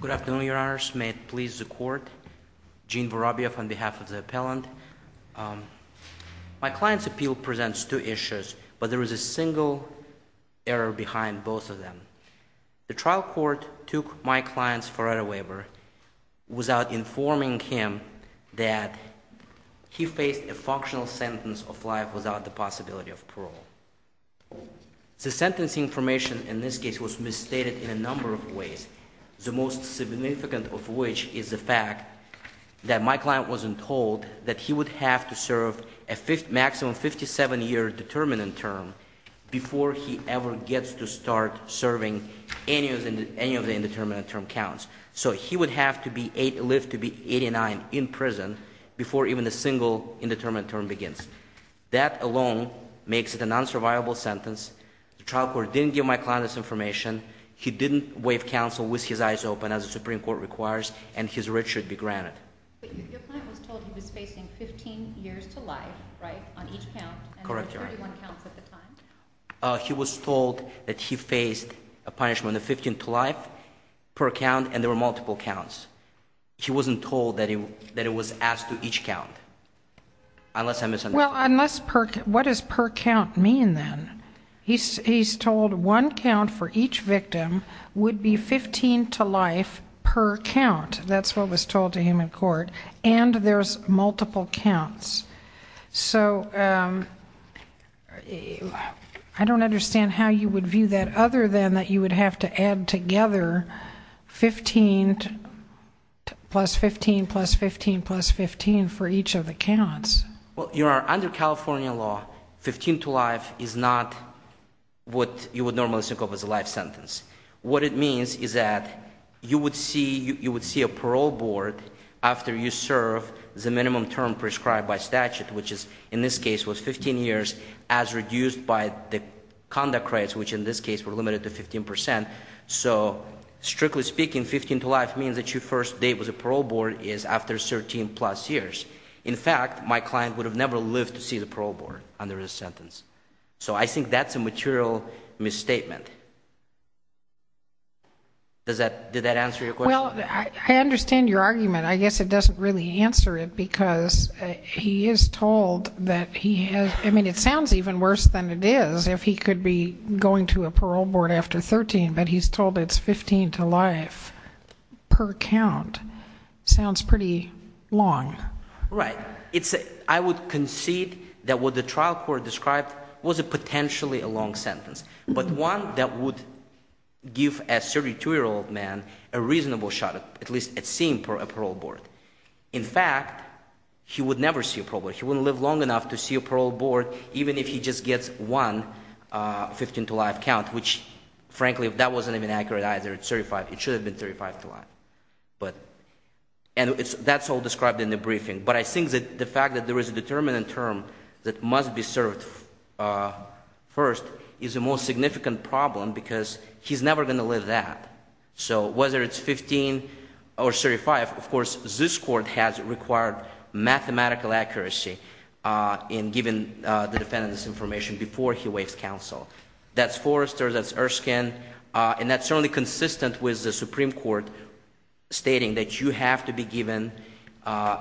Good afternoon, your honors. May it please the court? Gene Vorobyev on behalf of the appellant. My client's appeal presents two issues, but there is a single error behind both of them. The trial court took my client's forerunner waiver without informing him that he faced a functional sentence of life without the possibility of parole. The sentencing information in this case was misstated in a number of ways, the most significant of which is the fact that my client wasn't told that he would have to serve a maximum 57-year determinant term before he ever gets to start serving any of the indeterminate term counts. So he would have to live to be 89 in prison before even a single indeterminate term begins. That alone makes it a non-survivable sentence. The trial court didn't give my client this information, he didn't waive counsel with his eyes open as the Supreme Court requires, and his writ should be granted. He was told that he faced a punishment of 15 to life per count and there were multiple counts. He wasn't told that it was asked to each count. Well, what does per count mean then? He's told one count for each victim would be 15 to life per count. That's what was told to him in court, and there's multiple counts. So, I don't understand how you would view that other than that you would have to add together 15 plus 15 plus 15 plus 15 for each of the counts. Well, under California law, 15 to life is not what you would normally think of as a life sentence. What it means is that you would see a parole board after you serve the minimum term prescribed by statute, which is in this case was 15 years, as reduced by the conduct rates, which in this case were limited to 15 percent. So strictly speaking, 15 to life means that your first date with a parole board is after 13 plus years. In fact, my client would have never lived to see the parole board under his sentence. So I think that's a material misstatement. Does that, did that answer your question? Well, I understand your argument. I guess it doesn't really answer it because he is told that he has, I mean it sounds even worse than it is if he could be going to a parole board after 13, but he's told it's 15 to life per count. Sounds pretty long. Right. It's, I would concede that what the trial court described was a potentially a long sentence, but one that would give a 32 year old man a reasonable shot at least at seeing a parole board. In fact, he would never see a parole board. He wouldn't live long enough to see a parole board, even if he just gets one 15 to life count, which frankly, if that wasn't even accurate, either it's 35, it should have been 35 to life. But, and it's, that's all described in the briefing. But I think that the fact that there is a determinant term that must be served first is the most significant problem because he's never going to live that. So whether it's 15 or 35, of course, this court has required mathematical accuracy in giving the defendant this information before he waives counsel. That's Forrester, that's Erskine, and that's certainly consistent with the Supreme Court stating that you have to be given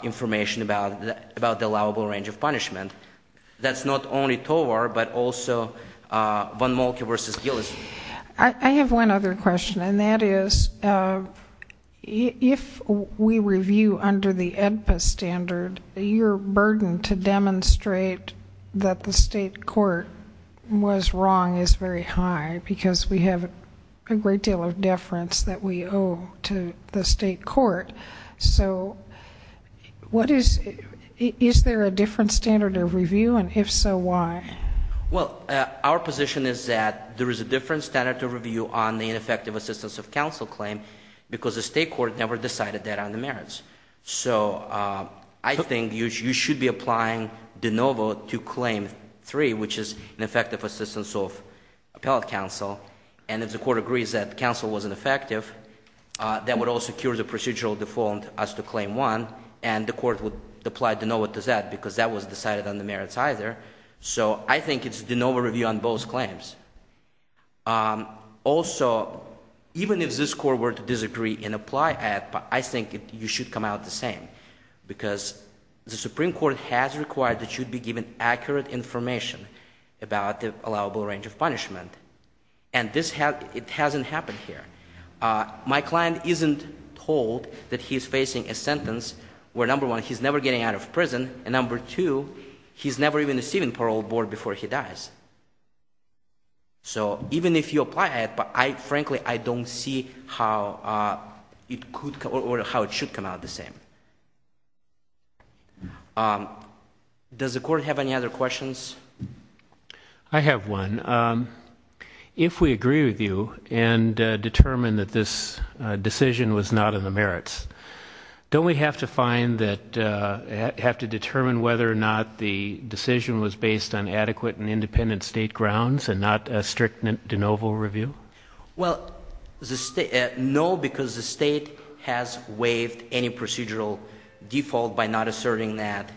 information about the allowable range of punishment. That's not only Tovar, but also Von Molke versus Gillis. I have one other question and that is if we review under the AEDPA standard, your burden to demonstrate that the state court was wrong is very high because we have a great deal of deference that we owe to the state court. So, what is, is there a different standard of review? And if so, why? Well, our position is that there is a different standard to review on the ineffective assistance of counsel claim because the state court never decided that on the merits. So I think you should be applying de novo to claim three, which is an effective assistance of appellate counsel. And if the court agrees that counsel wasn't effective, that would also cure the procedural default as to claim one and the court would apply de novo to that because that was decided on the merits either. So I think it's de novo review on both claims. Also, even if this court were to disagree and apply AEDPA, I think you should come out the same because the Supreme Court has required that you'd be given accurate information about the allowable range of punishment and this has, it hasn't happened here. My client isn't told that he's facing a sentence where number one, he's never getting out of prison and number two, he's never even receiving parole board before he dies. So even if you apply AEDPA, I frankly, I don't see how it could or how it should come out the same. Does the court have any other questions? I have one. If we agree with you and determine that this decision was not in the merits, don't we have to find that, have to determine whether or not the decision was based on adequate and independent state grounds and not a strict de novo review? Well, no, because the state has waived any procedural default by not asserting that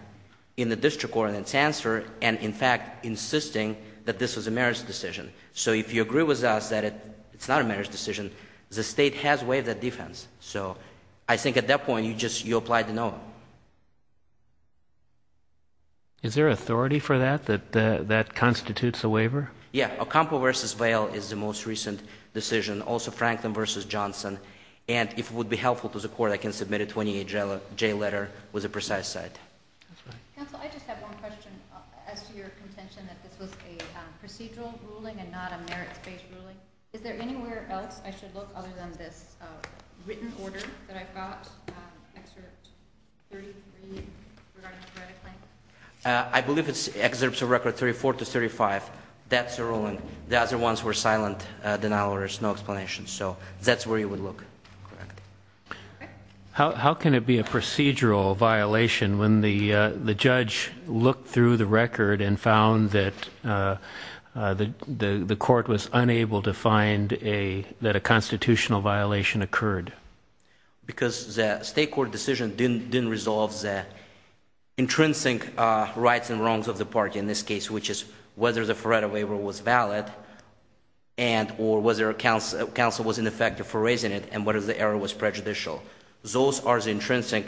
in the district court in its answer and in fact insisting that this was a merits decision. So if you agree with us that it's not a merits decision, the state has waived that defense. Is there authority for that, that that constitutes a waiver? Yeah, Ocampo versus Vail is the most recent decision, also Franklin versus Johnson. And if it would be helpful to the court, I can submit a 28-J letter with a precise site. Counsel, I just have one question. As to your contention that this was a procedural ruling and not a merits-based ruling, is there anywhere else I should look other than this written order that I've got, excerpt 33 regarding the credit claim? I believe it's excerpts of record 34 to 35. That's the ruling. The other ones were silent denial or there's no explanation. So that's where you would look. How can it be a procedural violation when the the judge looked through the record and found that the the court was unable to find a, that a constitutional violation occurred? Because the state court decision didn't, didn't resolve the intrinsic rights and wrongs of the party in this case, which is whether the Faretto waiver was valid and or whether counsel, counsel was ineffective for raising it and whether the error was prejudicial. Those are the intrinsic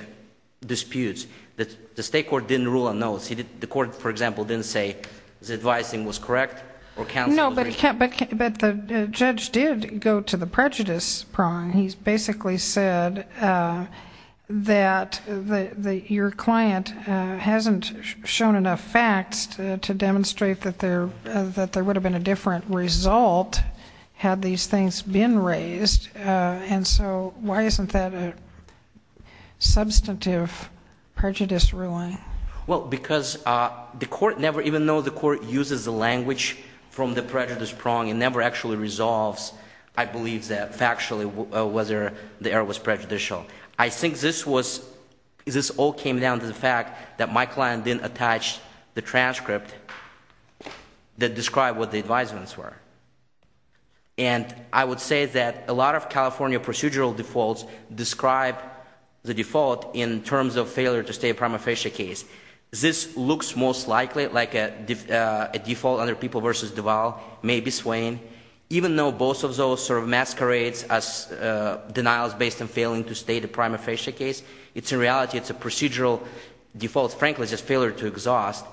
disputes that the state court didn't rule on those. He did, the court, for example, didn't say the advising was correct or counsel was right. But the judge did go to the prejudice prong. He's basically said that your client hasn't shown enough facts to demonstrate that there, that there would have been a different result had these things been raised. And so why isn't that a substantive prejudice ruling? Well, because the court never, even though the court uses the language from the prejudice prong, it never actually resolves, I believe, that factually whether the error was prejudicial. I think this was, this all came down to the fact that my client didn't attach the transcript that described what the advisements were. And I would say that a lot of California procedural defaults describe the default in terms of failure to stay a prima facie case. This looks most likely like a default under People v. Duval, maybe Swain, even though both of those sort of masquerades as denials based on failing to stay the prima facie case, it's in reality, it's a procedural default, frankly, just failure to exhaust,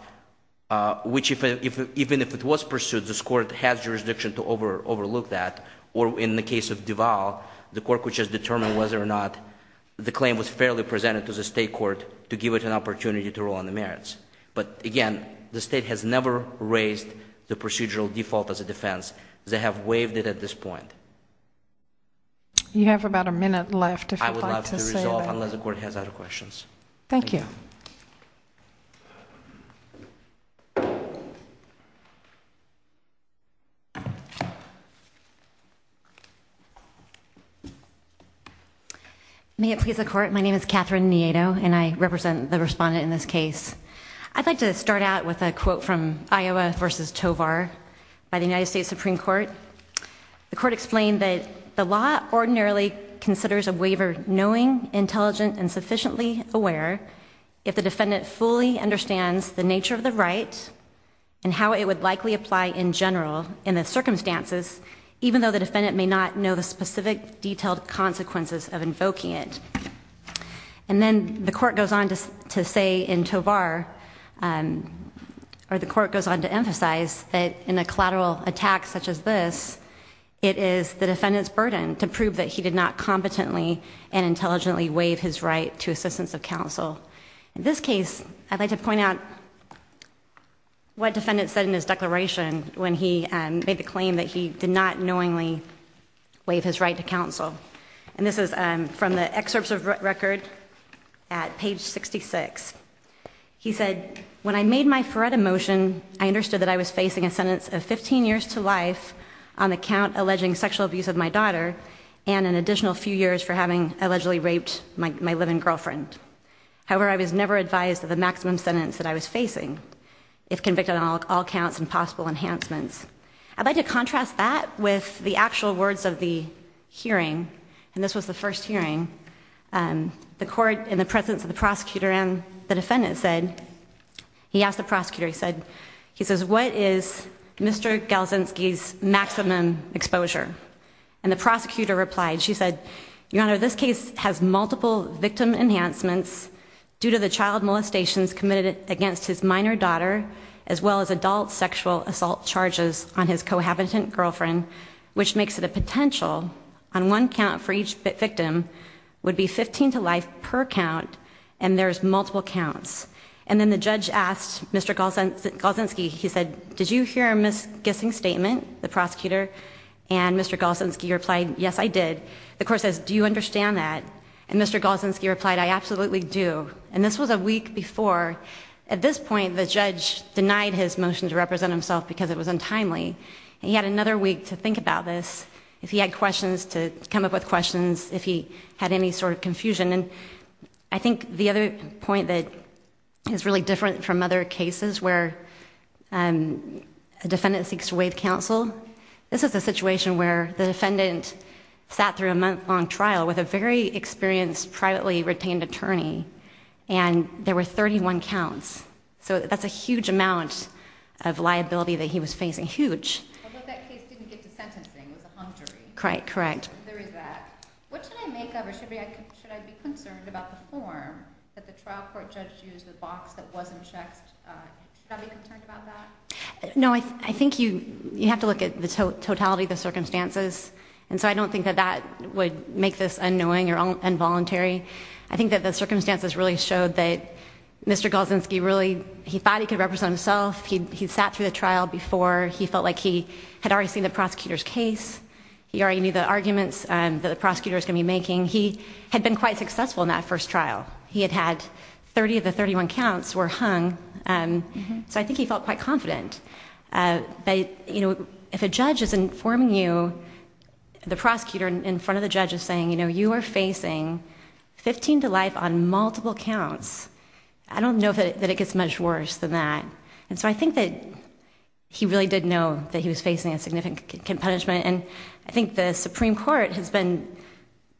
which even if it was pursued, this court has jurisdiction to overlook that. Or in the case of Duval, the court could just determine whether or not the claim was fairly presented to the state court to give it an opportunity to rule on the merits. But again, the state has never raised the procedural default as a defense. They have waived it at this point. You have about a minute left. I would love to resolve, unless the court has other questions. Thank you. May it please the court. My name is Catherine Nieto, and I represent the respondent in this case. I'd like to start out with a quote from Iowa v. Tovar by the United States Supreme Court. The court explained that the law ordinarily considers a waiver knowing, intelligent, and sufficiently aware if the defendant fully and fully understands the nature of the right and how it would likely apply in general in the circumstances, even though the defendant may not know the specific detailed consequences of invoking it. And then the court goes on to say in Tovar, or the court goes on to emphasize that in a collateral attack such as this, it is the defendant's burden to prove that he did not competently and intelligently waive his right to assistance of counsel. In this case, I'd like to point out what defendant said in his declaration when he made the claim that he did not knowingly waive his right to counsel. And this is from the excerpts of record at page 66. He said, when I made my FREDA motion, I understood that I was facing a sentence of 15 years to life on the count alleging sexual abuse of my daughter and an additional few years for having allegedly raped my live-in girlfriend. However, I was never advised of the maximum sentence that I was facing if convicted on all counts and possible enhancements. I'd like to contrast that with the actual words of the hearing. And this was the first hearing. The court, in the presence of the prosecutor and the defendant, said, he asked the prosecutor, he said, he says, what is Mr. Galzinski's maximum exposure? And the prosecutor replied, she said, Your Honor, this case has multiple victim enhancements due to the child molestations committed against his minor daughter as well as adult sexual assault charges on his cohabitant girlfriend, which makes it a potential on one count for each victim would be 15 to life per count and there's multiple counts. And then the judge asked Mr. Galzinski, he said, did you hear a misguessing statement, the prosecutor? And Mr. Galzinski replied, yes, I did. The court says, do you understand that? And Mr. Galzinski replied, I absolutely do. And this was a week before. At this point, the judge denied his motion to represent himself because it was untimely. He had another week to think about this, if he had questions to come up with questions, if he had any sort of confusion. And I think the other point that is really different from other cases where a defendant seeks to waive counsel, this is a situation where the defendant sat through a month-long trial with a very experienced, privately retained attorney and there were 31 counts. So that's a huge amount of liability that he was facing, huge. Although that case didn't get to sentencing, it was a hung jury. Correct, correct. There is that. What should I make of or should I be concerned about the form that the trial court judge used, the box that wasn't checked? Should I be concerned about that? No, I think you have to look at the totality of the circumstances. And so I don't think that that would make this annoying or involuntary. I think that the circumstances really showed that Mr. Golzinski really, he thought he could represent himself. He sat through the trial before. He felt like he had already seen the prosecutor's case. He already knew the arguments that the prosecutor was going to be making. He had been quite successful in that first trial. He had had 30 of the 31 counts were hung, so I think he felt quite confident. If a judge is informing you, the prosecutor in front of the judge is saying, you know, you are facing 15 to life on multiple counts, I don't know that it gets much worse than that. And so I think that he really did know that he was facing a significant punishment. And I think the Supreme Court has been,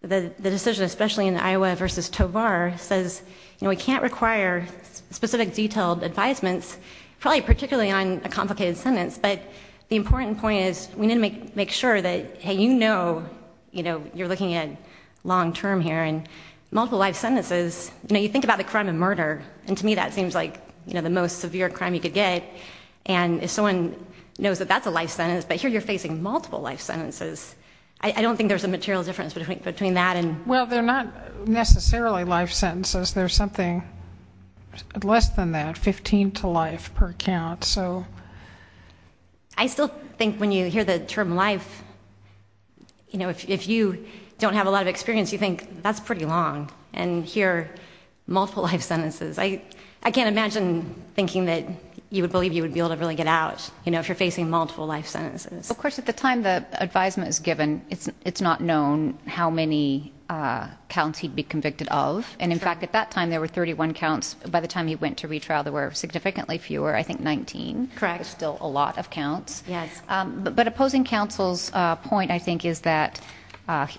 the decision especially in Iowa versus Tovar says, you know, we can't require specific detailed advisements, probably particularly on a complicated sentence. But the important point is we need to make sure that, hey, you know, you know, you're looking at long term here and multiple life sentences. You know, you think about the crime of murder. And to me, that seems like, you know, the most severe crime you could get. And if someone knows that that's a life sentence, but here you're facing multiple life sentences. I don't think there's a material difference between that and. Well, they're not necessarily life sentences. There's something less than that, 15 to life per count. So I still think when you hear the term life, you know, if you don't have a lot of experience, you think that's pretty long. And here, multiple life sentences. I, I can't imagine thinking that you would believe you would be able to really get out, you know, if you're facing multiple life sentences. Of course, at the time the advisement is given, it's it's not known how many counts he'd be convicted of. And in fact, at that time, there were 31 counts. By the time he went to retrial, there were significantly fewer. I think 19. Correct. Still a lot of counts. Yes. But opposing counsel's point, I think, is that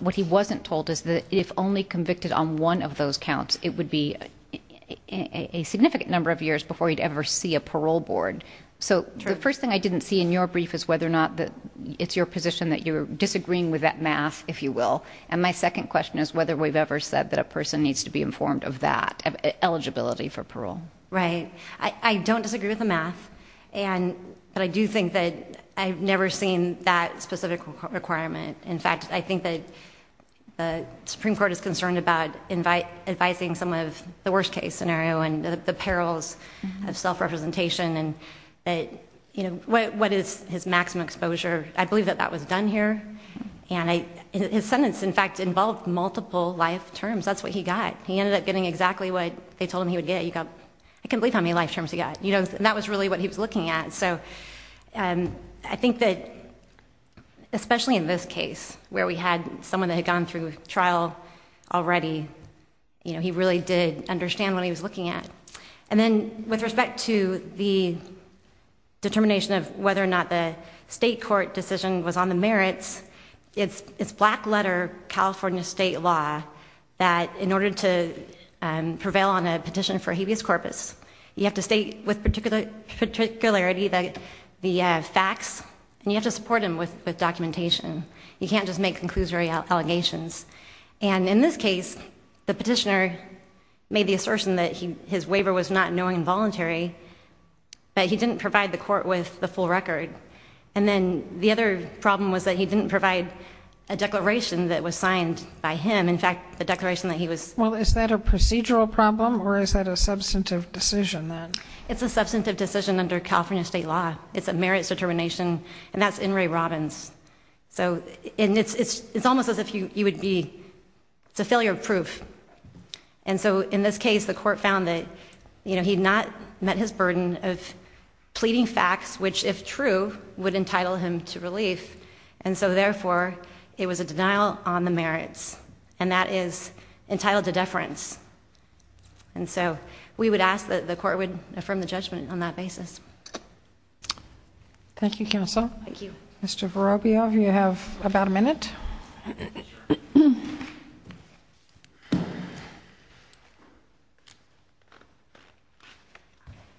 what he wasn't told is that if only convicted on one of those counts, it would be a significant number of years before you'd ever see a parole board. So the first thing I didn't see in your brief is whether or not it's your position that you're disagreeing with that math, if you will. And my second question is whether we've ever said that a person needs to be informed of that eligibility for parole. Right. I don't disagree with the math. And but I do think that I've never seen that specific requirement. In fact, I think that the Supreme Court is concerned about invite advising some of the worst case scenario and the perils of self-representation. And that, you know, what is his maximum exposure? I believe that that was done here. And his sentence, in fact, involved multiple life terms. That's what he got. He ended up getting exactly what they told him he would get. You can't believe how many life terms he got. You know, that was really what he was looking at. So I think that especially in this case where we had someone that had gone through trial already. You know, he really did understand what he was looking at. And then with respect to the determination of whether or not the state court decision was on the merits. It's black letter California state law that in order to prevail on a petition for habeas corpus, you have to state with particular particularity that the facts. And you have to support him with the documentation. You can't just make conclusory allegations. And in this case, the petitioner made the assertion that his waiver was not knowing involuntary, but he didn't provide the court with the full record. And then the other problem was that he didn't provide a declaration that was signed by him. In fact, the declaration that he was. Well, is that a procedural problem or is that a substantive decision then? It's a substantive decision under California state law. It's a merits determination. And that's in Ray Robbins. So it's almost as if you would be. It's a failure of proof. And so in this case, the court found that, you know, he had not met his burden of pleading facts, which, if true, would entitle him to relief. And so, therefore, it was a denial on the merits and that is entitled to deference. And so we would ask that the court would affirm the judgment on that basis. Thank you, Counsel. Mr. Vorobiev, you have about a minute.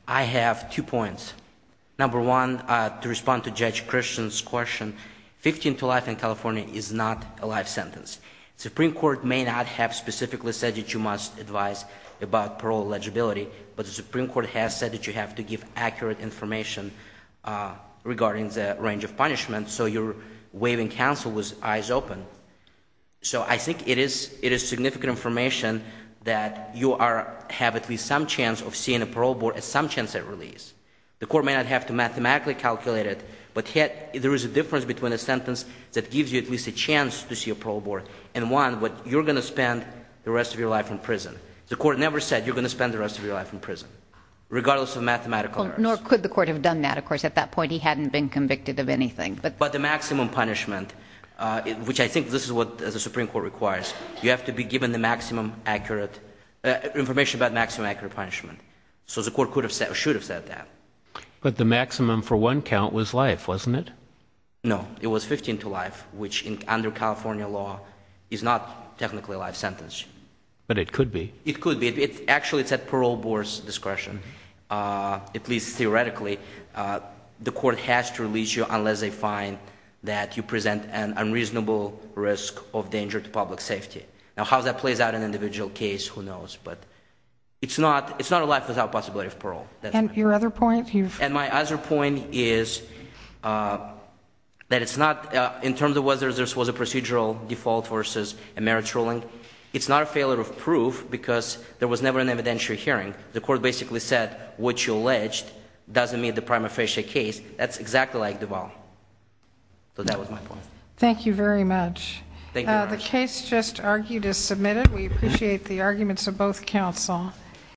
I have two points. Number one, to respond to Judge Christian's question, 15 to life in California is not a life sentence. The Supreme Court may not have specifically said that you must advise about parole eligibility, but the Supreme Court has said that you have to give accurate information regarding the range of punishment. So you're waiving counsel with eyes open. So I think it is significant information that you have at least some chance of seeing a parole board at some chance at release. The court may not have to mathematically calculate it, but yet there is a difference between a sentence that gives you at least a chance to see a parole board and one where you're going to spend the rest of your life in prison. The court never said you're going to spend the rest of your life in prison, regardless of mathematical errors. Nor could the court have done that, of course. At that point, he hadn't been convicted of anything. But the maximum punishment, which I think this is what the Supreme Court requires, you have to be given the maximum accurate information about maximum accurate punishment. So the court should have said that. But the maximum for one count was life, wasn't it? No, it was 15 to life, which under California law is not technically a life sentence. But it could be. It could be. Actually, it's at parole board's discretion, at least theoretically. The court has to release you unless they find that you present an unreasonable risk of danger to public safety. Now, how that plays out in an individual case, who knows. But it's not a life without possibility of parole. And your other point? And my other point is that it's not, in terms of whether this was a procedural default versus a merit ruling, it's not a failure of proof because there was never an evidentiary hearing. The court basically said what you alleged doesn't meet the prima facie case. That's exactly like Duval. So that was my point. Thank you very much. Thank you very much. The case just argued is submitted. We appreciate the arguments of both counsel.